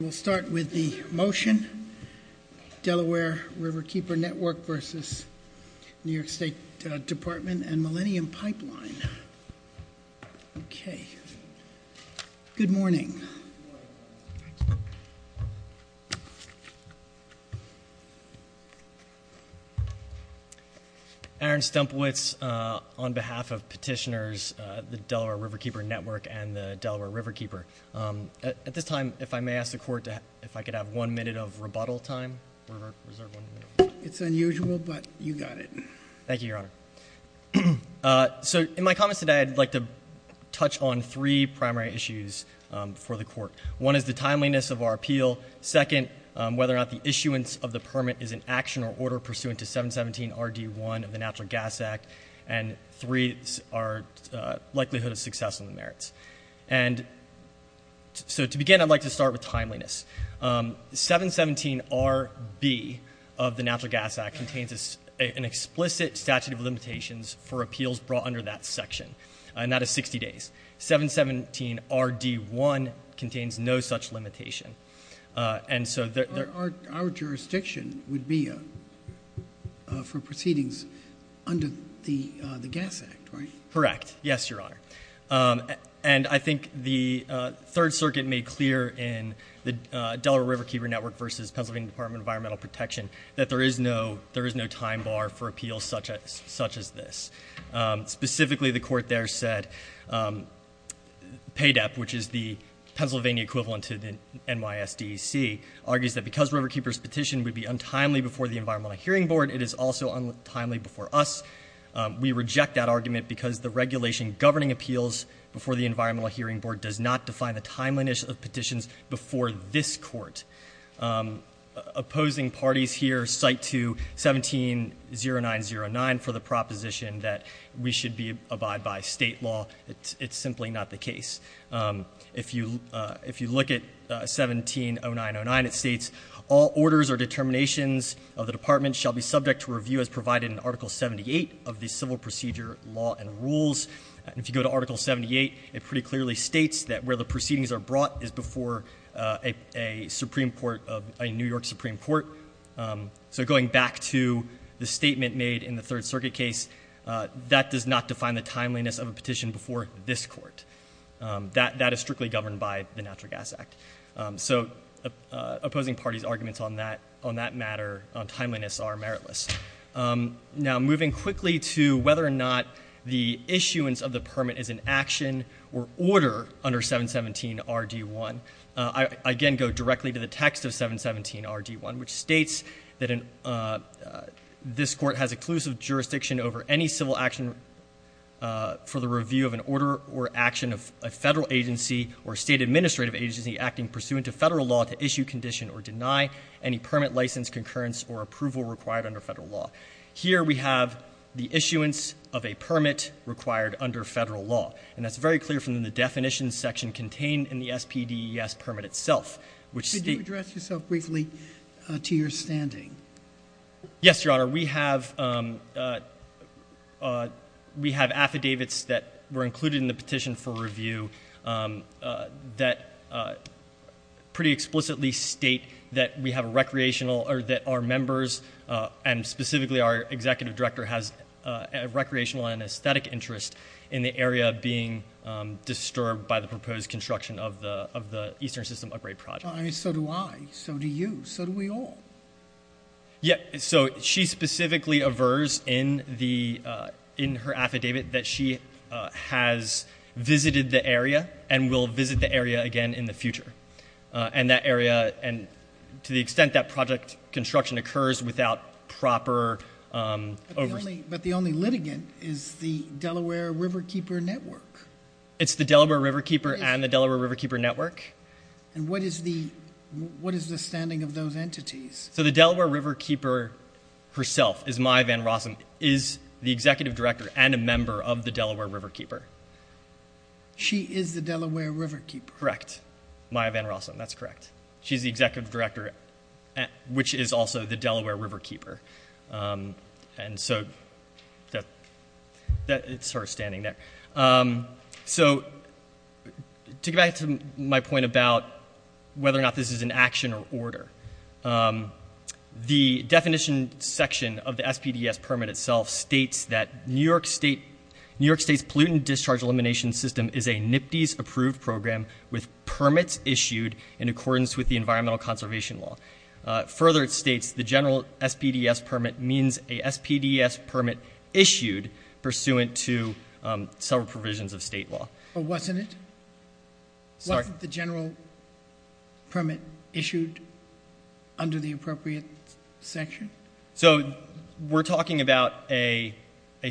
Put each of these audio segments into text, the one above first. We'll start with the motion, Delaware Riverkeeper Network versus New York State Department and Millennium Pipeline. Okay, good morning. Good morning. Thanks. Aaron Stumpwitz on behalf of petitioners, the Delaware Riverkeeper Network and the Delaware Riverkeeper. At this time, if I may ask the court if I could have one minute of rebuttal time. It's unusual, but you got it. Thank you, Your Honor. So in my comments today, I'd like to touch on three primary issues for the court. One is the timeliness of our appeal. Second, whether or not the issuance of the permit is an action or order pursuant to 717RD1 of the Natural Gas Act. And three, our likelihood of success on the merits. And so to begin, I'd like to start with timeliness. 717RB of the Natural Gas Act contains an explicit statute of limitations for appeals brought under that section. And that is 60 days. 717RD1 contains no such limitation. Our jurisdiction would be for proceedings under the Gas Act, right? Correct, yes, Your Honor. And I think the Third Circuit made clear in the Delaware Riverkeeper Network versus Pennsylvania Department of Environmental Protection that there is no time bar for appeals such as this. Specifically, the court there said PAYDEP, which is the Pennsylvania equivalent to the NYSDEC, argues that because Riverkeeper's petition would be untimely before the Environmental Hearing Board, it is also untimely before us. We reject that argument because the regulation governing appeals before the Environmental Hearing Board does not define the timeliness of petitions before this court. Opposing parties here cite to 17-0909 for the proposition that we should abide by state law. It's simply not the case. If you look at 17-0909, it states, all orders or determinations of the department shall be subject to review as provided in Article 78 of the Civil Procedure Law and Rules. And if you go to Article 78, it pretty clearly states that where the proceedings are brought is before a New York Supreme Court. So going back to the statement made in the Third Circuit case, that does not define the timeliness of a petition before this court. That is strictly governed by the Natural Gas Act. So opposing parties' arguments on that matter, on timeliness, are meritless. Now, moving quickly to whether or not the issuance of the permit is an action or order under 717RD1, I again go directly to the text of 717RD1, which states that this court has exclusive jurisdiction over any civil action for the review of an order or action of a federal agency or state administrative agency acting pursuant to federal law to issue, condition, or deny any permit, license, concurrence, or approval required under federal law. Here we have the issuance of a permit required under federal law. And that's very clear from the definitions section contained in the SPDES permit itself, which states- Could you address yourself briefly to your standing? Yes, Your Honor. We have affidavits that were included in the petition for review that pretty explicitly state that we have a recreational- or that our members, and specifically our executive director, has a recreational and aesthetic interest in the area being disturbed by the proposed construction of the Eastern System Upgrade Project. Well, I mean, so do I. So do you. So do we all. Yeah, so she specifically avers in her affidavit that she has visited the area and will visit the area again in the future. And that area, to the extent that project construction occurs without proper oversight- But the only litigant is the Delaware Riverkeeper Network. It's the Delaware Riverkeeper and the Delaware Riverkeeper Network. And what is the standing of those entities? So the Delaware Riverkeeper herself, Maya Van Rossum, is the executive director and a member of the Delaware Riverkeeper. She is the Delaware Riverkeeper. Correct. Maya Van Rossum, that's correct. She's the executive director, which is also the Delaware Riverkeeper. And so that's her standing there. So to get back to my point about whether or not this is an action or order, the definition section of the SPDES permit itself states that New York State's Pollutant Discharge Elimination System is a NPDES-approved program with permits issued in accordance with the Environmental Conservation Law. Further, it states the general SPDES permit means a SPDES permit issued pursuant to several provisions of state law. But wasn't it? Wasn't the general permit issued under the appropriate section? So we're talking about a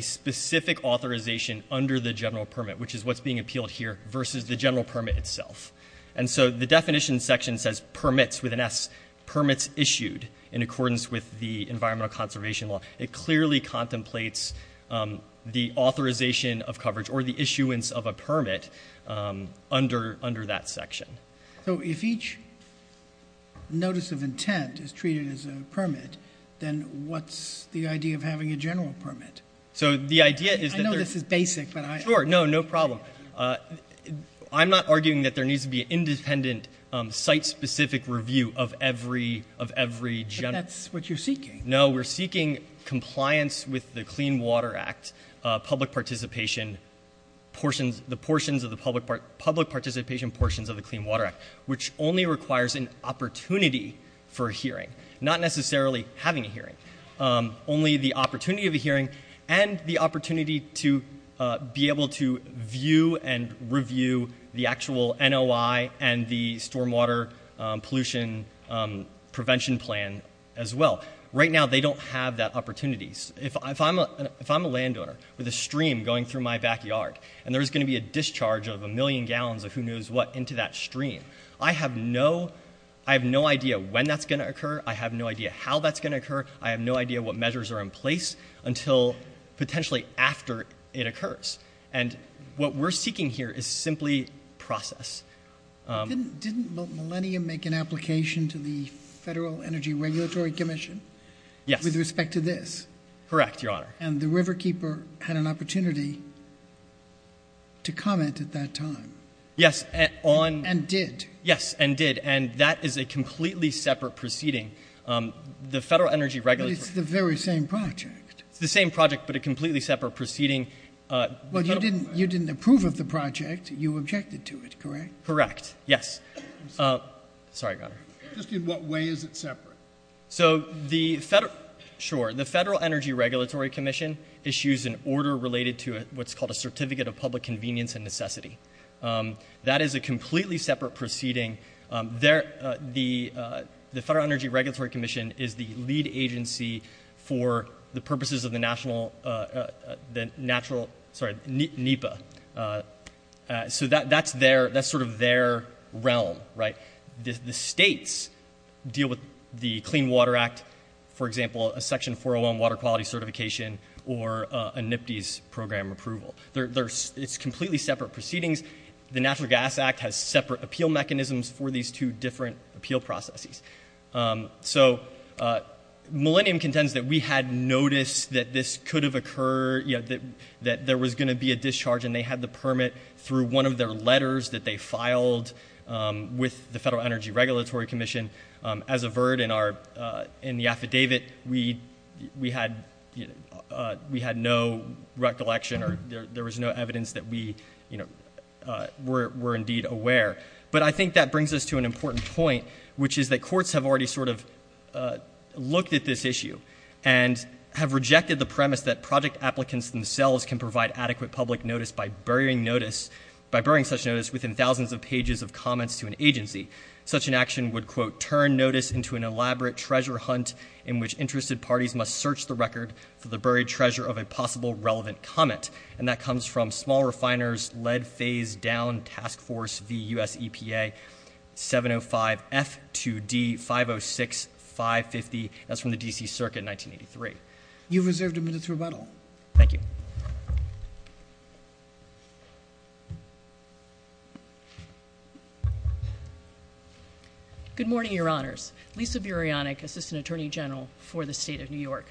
specific authorization under the general permit, which is what's being appealed here, versus the general permit itself. And so the definition section says permits with an S, permits issued in accordance with the Environmental Conservation Law. It clearly contemplates the authorization of coverage or the issuance of a permit under that section. So if each notice of intent is treated as a permit, then what's the idea of having a general permit? So the idea is that there's... I know this is basic, but I... Sure. No, no problem. I'm not arguing that there needs to be an independent, site-specific review of every general... But that's what you're seeking. No, we're seeking compliance with the Clean Water Act, public participation portions of the Clean Water Act, which only requires an opportunity for a hearing, not necessarily having a hearing. Only the opportunity of a hearing and the opportunity to be able to view and review the actual NOI and the stormwater pollution prevention plan as well. Right now, they don't have that opportunity. If I'm a landowner with a stream going through my backyard, and there's going to be a discharge of a million gallons of who-knows-what into that stream, I have no idea when that's going to occur. I have no idea how that's going to occur. I have no idea what measures are in place until potentially after it occurs. And what we're seeking here is simply process. Didn't Millennium make an application to the Federal Energy Regulatory Commission with respect to this? Correct, Your Honor. And the riverkeeper had an opportunity to comment at that time? Yes, on... And did. Yes, and did. And that is a completely separate proceeding. The Federal Energy Regulatory... But it's the very same project. It's the same project, but a completely separate proceeding. Well, you didn't approve of the project. You objected to it, correct? Correct. Yes. I'm sorry. Sorry, Your Honor. Just in what way is it separate? So the Federal... Sure. The Federal Energy Regulatory Commission issues an order related to what's called a Certificate of Public Convenience and Necessity. That is a completely separate proceeding. The Federal Energy Regulatory Commission is the lead agency for the purposes of the National... Sorry, NEPA. So that's sort of their realm, right? The states deal with the Clean Water Act, for example, a Section 401 water quality certification or a NPDES program approval. It's completely separate proceedings. The Natural Gas Act has separate appeal mechanisms for these two different appeal processes. So Millennium contends that we had noticed that this could have occurred, that there was going to be a discharge, and they had the permit through one of their letters that they filed with the Federal Energy Regulatory Commission. As averred in the affidavit, we had no recollection or there was no evidence that we were indeed aware. But I think that brings us to an important point, which is that courts have already sort of looked at this issue and have rejected the premise that project applicants themselves can provide adequate public notice by burying such notice within thousands of pages of comments to an agency. Such an action would, quote, turn notice into an elaborate treasure hunt in which interested parties must search the record for the buried treasure of a possible relevant comment. And that comes from Small Refiners Lead Phase Down Task Force v. U.S. EPA 705F2D506550. That's from the D.C. Circuit in 1983. You've reserved a minute's rebuttal. Thank you. Good morning, Your Honors. Lisa Burianic, Assistant Attorney General for the State of New York.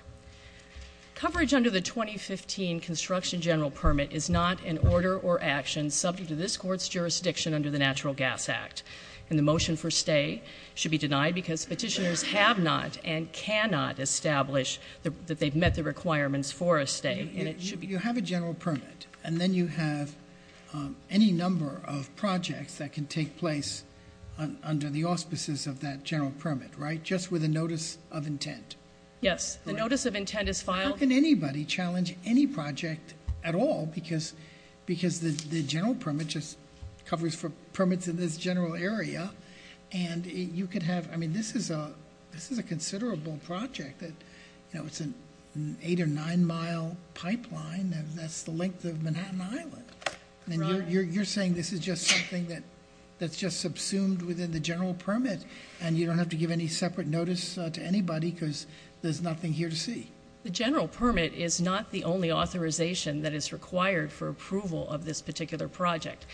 Coverage under the 2015 Construction General Permit is not an order or action subject to this court's jurisdiction under the Natural Gas Act. And the motion for stay should be denied because petitioners have not and cannot establish that they've met the requirements for a stay. And it should be- You have a general permit. And then you have any number of projects that can take place under the auspices of that general permit, right? Just with a notice of intent. Yes. The notice of intent is filed- How can anybody challenge any project at all? Because the general permit just covers for permits in this general area. And you could have-I mean, this is a considerable project. You know, it's an eight or nine-mile pipeline. That's the length of Manhattan Island. And you're saying this is just something that's just subsumed within the general permit and you don't have to give any separate notice to anybody because there's nothing here to see. The general permit is not the only authorization that is required for approval of this particular project.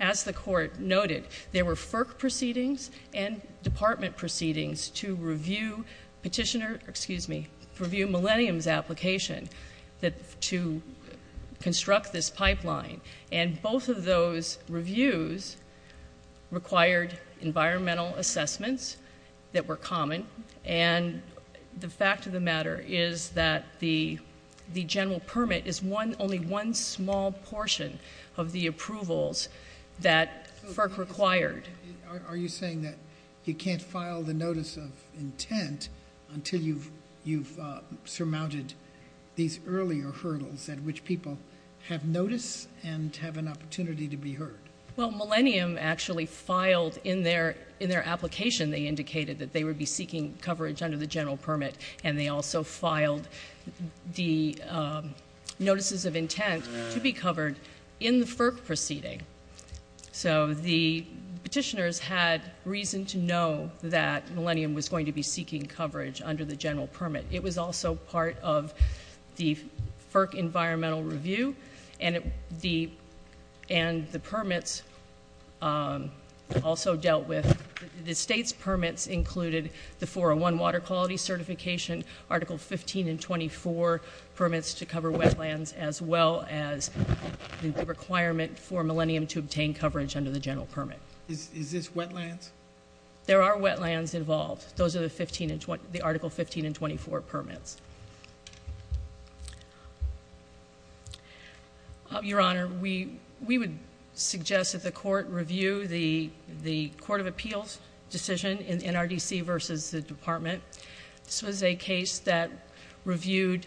As the court noted, there were FERC proceedings and department proceedings to review petitioner-excuse me- to review Millennium's application to construct this pipeline. And both of those reviews required environmental assessments that were common. And the fact of the matter is that the general permit is only one small portion of the approvals that FERC required. Are you saying that you can't file the notice of intent until you've surmounted these earlier hurdles at which people have notice and have an opportunity to be heard? Well, Millennium actually filed in their application. They indicated that they would be seeking coverage under the general permit. And they also filed the notices of intent to be covered in the FERC proceeding. So the petitioners had reason to know that Millennium was going to be seeking coverage under the general permit. It was also part of the FERC environmental review. And the permits also dealt with- the state's permits included the 401 water quality certification, Article 15 and 24 permits to cover wetlands, as well as the requirement for Millennium to obtain coverage under the general permit. Is this wetlands? There are wetlands involved. Those are the Article 15 and 24 permits. Your Honor, we would suggest that the court review the court of appeals decision in NRDC versus the department. This was a case that reviewed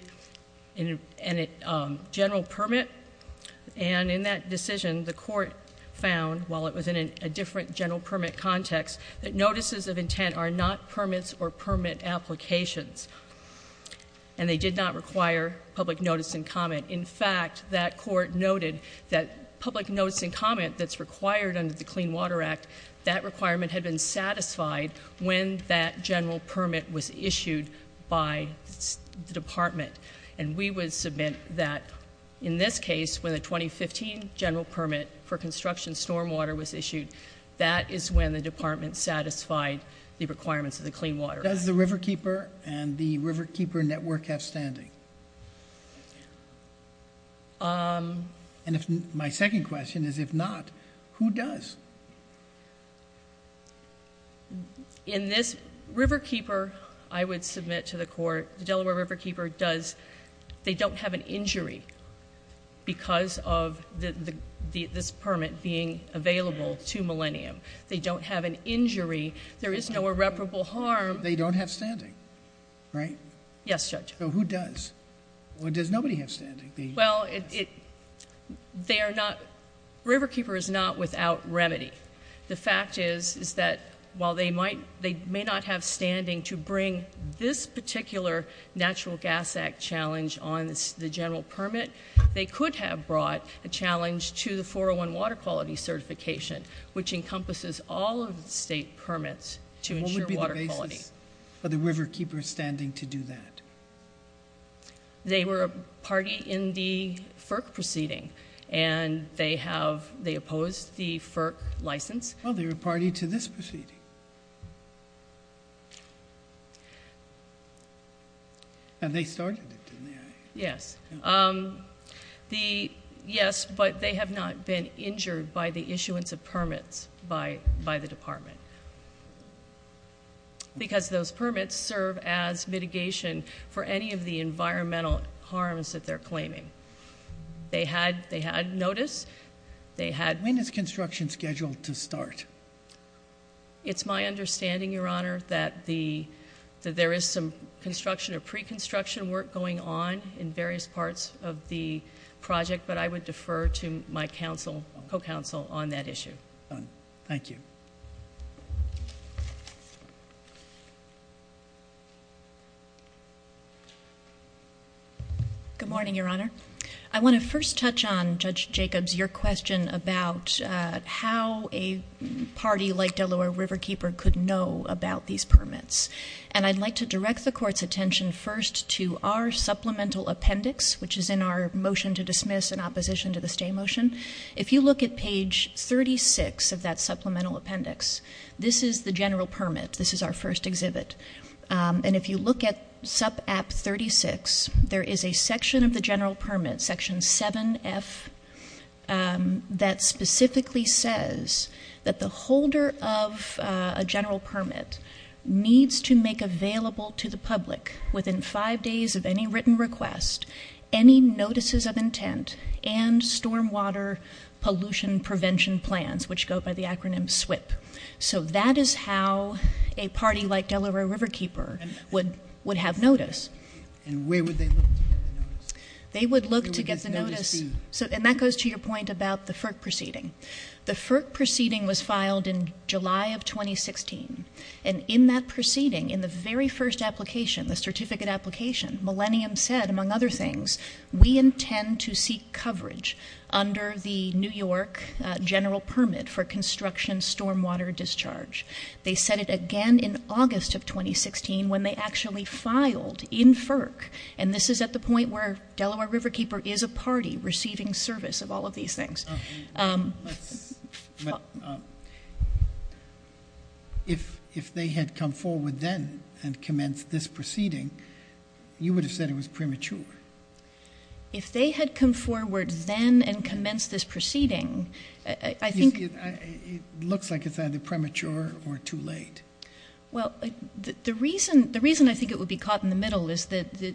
a general permit. And in that decision, the court found, while it was in a different general permit context, that notices of intent are not permits or permit applications. And they did not require public notice and comment. In fact, that court noted that public notice and comment that's required under the Clean Water Act, that requirement had been satisfied when that general permit was issued by the department. And we would submit that in this case, when the 2015 general permit for construction stormwater was issued, that is when the department satisfied the requirements of the Clean Water Act. Does the Riverkeeper and the Riverkeeper Network have standing? And if-my second question is, if not, who does? In this-Riverkeeper, I would submit to the court-the Delaware Riverkeeper does- Because of this permit being available to Millennium. They don't have an injury. There is no irreparable harm. They don't have standing, right? Yes, Judge. So who does? Does nobody have standing? Well, they are not-Riverkeeper is not without remedy. The fact is, is that while they might-they may not have standing to bring this particular Natural Gas Act challenge on the general permit, they could have brought a challenge to the 401 water quality certification, which encompasses all of the state permits to ensure water quality. What would be the basis for the Riverkeeper standing to do that? They were a party in the FERC proceeding, and they have-they opposed the FERC license. Well, they were a party to this proceeding. And they started it, didn't they? Yes. The-yes, but they have not been injured by the issuance of permits by the department because those permits serve as mitigation for any of the environmental harms that they're claiming. They had-they had notice. They had- When is construction scheduled to start? It's my understanding, Your Honor, that the-that there is some construction or pre-construction work going on in various parts of the project, but I would defer to my counsel-co-counsel on that issue. Thank you. Good morning, Your Honor. I want to first touch on, Judge Jacobs, your question about how a party like Delaware Riverkeeper could know about these permits. And I'd like to direct the Court's attention first to our supplemental appendix, which is in our motion to dismiss in opposition to the stay motion. If you look at page 36 of that supplemental appendix, this is the general permit. This is our first exhibit. And if you look at sub-app 36, there is a section of the general permit, section 7F, that specifically says that the holder of a general permit needs to make available to the public within five days of any written request, any notices of intent, and stormwater pollution prevention plans, which go by the acronym SWP. So that is how a party like Delaware Riverkeeper would have notice. And where would they look to get the notice? They would look to get the notice- And that goes to your point about the FERC proceeding. The FERC proceeding was filed in July of 2016. And in that proceeding, in the very first application, the certificate application, Millennium said, among other things, we intend to seek coverage under the New York general permit for construction stormwater discharge. They said it again in August of 2016 when they actually filed in FERC. And this is at the point where Delaware Riverkeeper is a party receiving service of all of these things. But if they had come forward then and commenced this proceeding, you would have said it was premature. If they had come forward then and commenced this proceeding, I think- It looks like it's either premature or too late. Well, the reason I think it would be caught in the middle is that the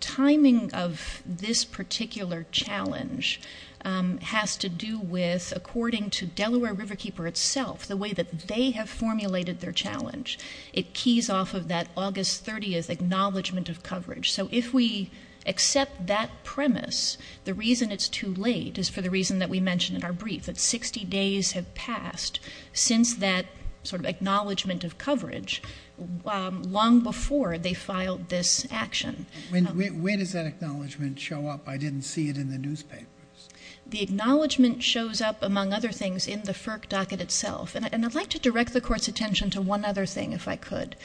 timing of this particular challenge has to do with, according to Delaware Riverkeeper itself, the way that they have formulated their challenge. It keys off of that August 30th acknowledgement of coverage. So if we accept that premise, the reason it's too late is for the reason that we mentioned in our brief, that 60 days have passed since that sort of acknowledgement of coverage long before they filed this action. Where does that acknowledgement show up? I didn't see it in the newspapers. The acknowledgement shows up, among other things, in the FERC docket itself. And I'd like to direct the Court's attention to one other thing if I could.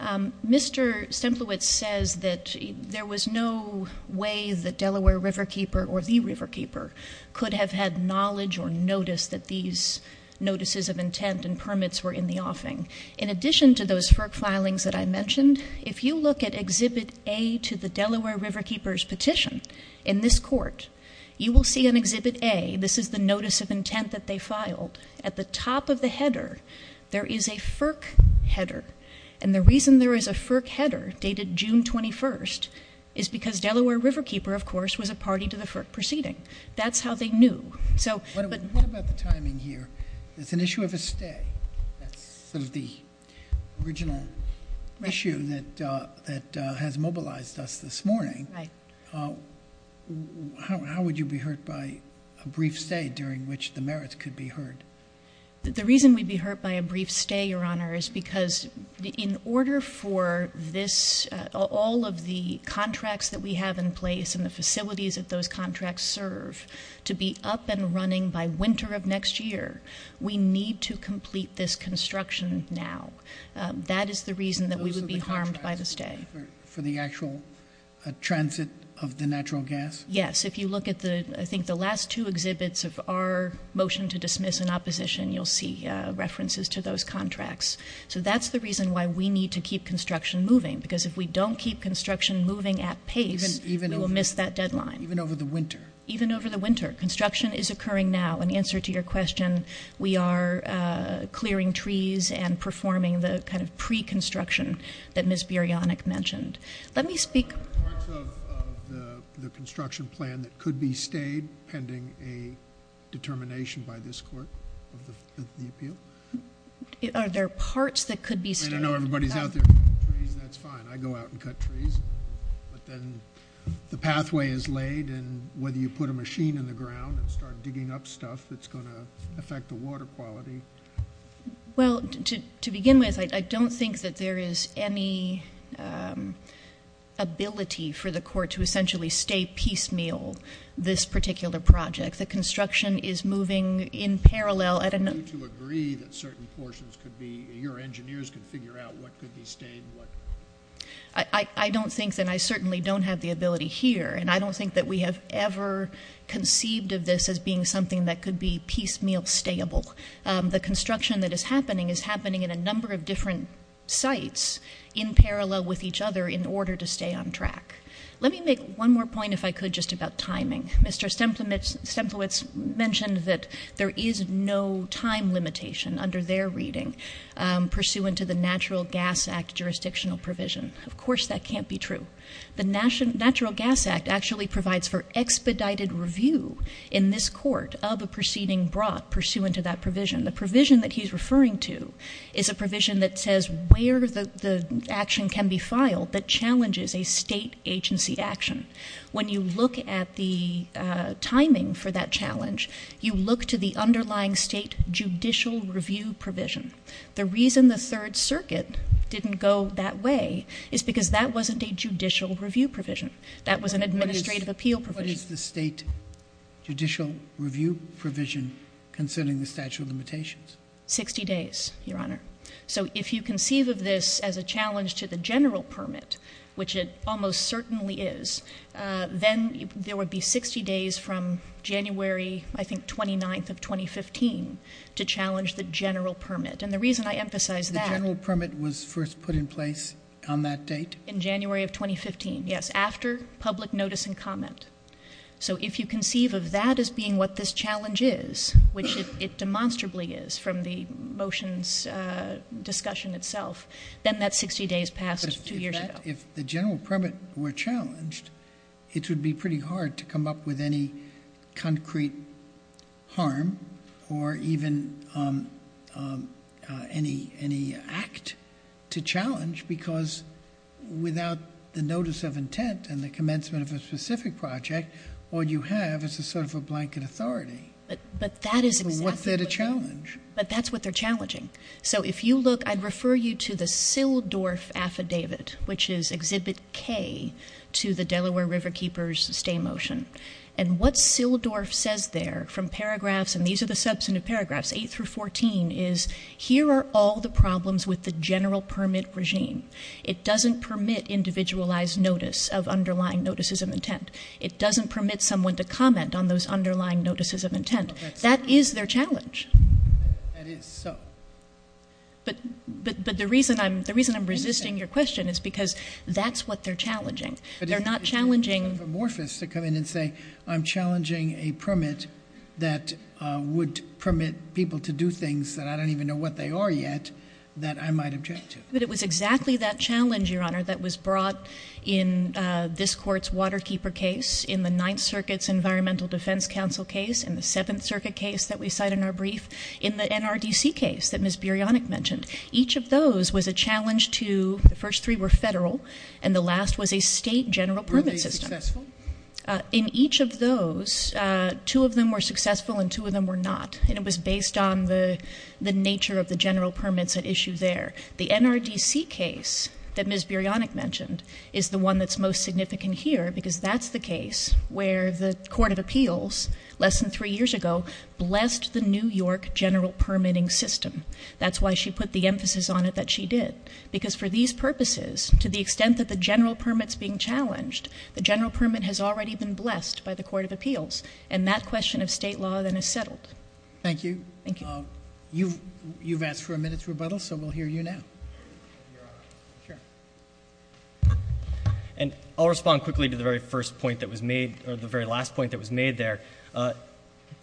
Mr. Stemplowitz says that there was no way that Delaware Riverkeeper or the Riverkeeper could have had knowledge or notice that these notices of intent and permits were in the offing. In addition to those FERC filings that I mentioned, if you look at Exhibit A to the Delaware Riverkeeper's petition, in this Court, you will see in Exhibit A, this is the notice of intent that they filed, at the top of the header, there is a FERC header. And the reason there is a FERC header dated June 21st is because Delaware Riverkeeper, of course, was a party to the FERC proceeding. That's how they knew. What about the timing here? It's an issue of a stay. That's sort of the original issue that has mobilized us this morning. How would you be hurt by a brief stay during which the merits could be hurt? The reason we'd be hurt by a brief stay, Your Honor, is because in order for all of the contracts that we have in place and the facilities that those contracts serve to be up and running by winter of next year, we need to complete this construction now. That is the reason that we would be harmed by the stay. For the actual transit of the natural gas? Yes. If you look at, I think, the last two exhibits of our motion to dismiss in opposition, you'll see references to those contracts. So that's the reason why we need to keep construction moving. Because if we don't keep construction moving at pace, we will miss that deadline. Even over the winter? Even over the winter. Construction is occurring now. In answer to your question, we are clearing trees and performing the kind of pre-construction that Ms. Biryonic mentioned. Are there parts of the construction plan that could be stayed pending a determination by this Court of the appeal? Are there parts that could be stayed? I know everybody's out there cutting trees. That's fine. I go out and cut trees. But then the pathway is laid, and whether you put a machine in the ground and start digging up stuff, it's going to affect the water quality. Well, to begin with, I don't think that there is any ability for the Court to essentially stay piecemeal this particular project. The construction is moving in parallel. Would you agree that certain portions could be, your engineers could figure out what could be stayed? I don't think, and I certainly don't have the ability here, and I don't think that we have ever conceived of this as being something that could be piecemeal stayable. The construction that is happening is happening in a number of different sites in parallel with each other in order to stay on track. Let me make one more point, if I could, just about timing. Mr. Stemplowitz mentioned that there is no time limitation under their reading pursuant to the Natural Gas Act jurisdictional provision. Of course that can't be true. The Natural Gas Act actually provides for expedited review in this Court of a proceeding brought pursuant to that provision. The provision that he's referring to is a provision that says where the action can be filed that challenges a state agency action. When you look at the timing for that challenge, you look to the underlying state judicial review provision. The reason the Third Circuit didn't go that way is because that wasn't a judicial review provision. That was an administrative appeal provision. What is the state judicial review provision concerning the statute of limitations? Sixty days, Your Honor. So if you conceive of this as a challenge to the general permit, which it almost certainly is, then there would be 60 days from January, I think, 29th of 2015 to challenge the general permit. And the reason I emphasize that- The general permit was first put in place on that date? In January of 2015, yes. After public notice and comment. So if you conceive of that as being what this challenge is, which it demonstrably is from the motion's discussion itself, then that 60 days passed two years ago. But if the general permit were challenged, it would be pretty hard to come up with any concrete harm, or even any act to challenge, because without the notice of intent and the commencement of a specific project, all you have is a sort of a blanket authority. But that is exactly what- So what's there to challenge? But that's what they're challenging. So if you look, I'd refer you to the Sildorf Affidavit, which is Exhibit K to the Delaware River Keeper's stay motion. And what Sildorf says there from paragraphs, and these are the substantive paragraphs, 8 through 14, is here are all the problems with the general permit regime. It doesn't permit individualized notice of underlying notices of intent. It doesn't permit someone to comment on those underlying notices of intent. That is their challenge. That is so. But the reason I'm resisting your question is because that's what they're challenging. They're not challenging- I don't even know what they are yet that I might object to. But it was exactly that challenge, Your Honor, that was brought in this court's Waterkeeper case, in the Ninth Circuit's Environmental Defense Council case, in the Seventh Circuit case that we cite in our brief, in the NRDC case that Ms. Biryonic mentioned. Each of those was a challenge to-the first three were federal, and the last was a state general permit system. Were they successful? In each of those, two of them were successful and two of them were not. And it was based on the nature of the general permits at issue there. The NRDC case that Ms. Biryonic mentioned is the one that's most significant here because that's the case where the Court of Appeals, less than three years ago, blessed the New York general permitting system. That's why she put the emphasis on it that she did. Because for these purposes, to the extent that the general permit's being challenged, the general permit has already been blessed by the Court of Appeals. And that question of state law then is settled. Thank you. Thank you. You've asked for a minute's rebuttal, so we'll hear you now. And I'll respond quickly to the very first point that was made, or the very last point that was made there. To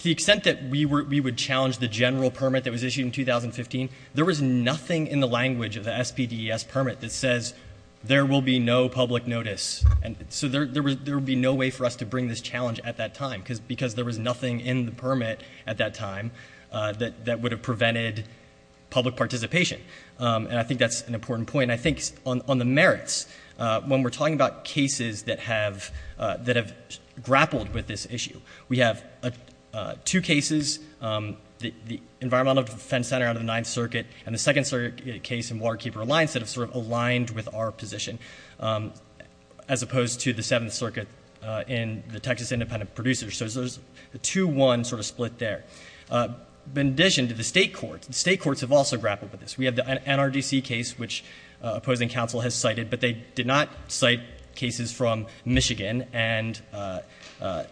the extent that we would challenge the general permit that was issued in 2015, there was nothing in the language of the SPDES permit that says, there will be no public notice. So there would be no way for us to bring this challenge at that time because there was nothing in the permit at that time that would have prevented public participation. And I think that's an important point. And I think on the merits, when we're talking about cases that have grappled with this issue, we have two cases, the Environmental Defense Center out of the Ninth Circuit and the second case in Waterkeeper Alliance that have sort of aligned with our position. As opposed to the Seventh Circuit in the Texas Independent Producers. So there's a 2-1 sort of split there. In addition to the state courts, the state courts have also grappled with this. We have the NRDC case, which opposing counsel has cited, but they did not cite cases from Michigan and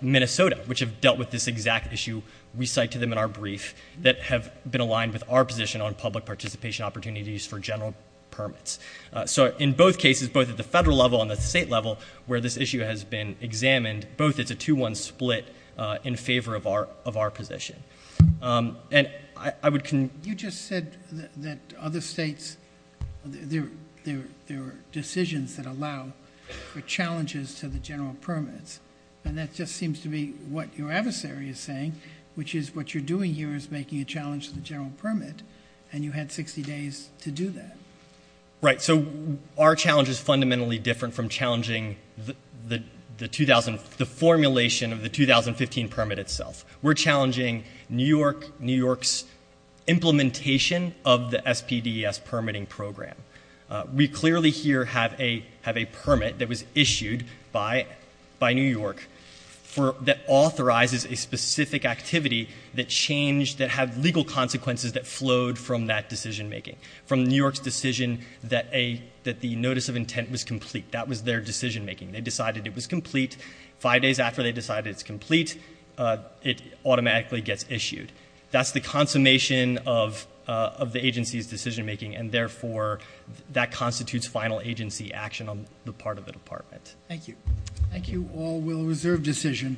Minnesota, which have dealt with this exact issue we cite to them in our brief, that have been aligned with our position on public participation opportunities for general permits. So in both cases, both at the federal level and the state level where this issue has been examined, both it's a 2-1 split in favor of our position. And I would conclude. You just said that other states, there are decisions that allow for challenges to the general permits. And that just seems to be what your adversary is saying, which is what you're doing here is making a challenge to the general permit, and you had 60 days to do that. Right. So our challenge is fundamentally different from challenging the formulation of the 2015 permit itself. We're challenging New York's implementation of the SPDES permitting program. We clearly here have a permit that was issued by New York that authorizes a specific activity that changed, that had legal consequences that flowed from that decision making. From New York's decision that the notice of intent was complete. That was their decision making. They decided it was complete. Five days after they decided it's complete, it automatically gets issued. That's the consummation of the agency's decision making, and therefore that constitutes final agency action on the part of the department. Thank you. Thank you all. We'll reserve decision.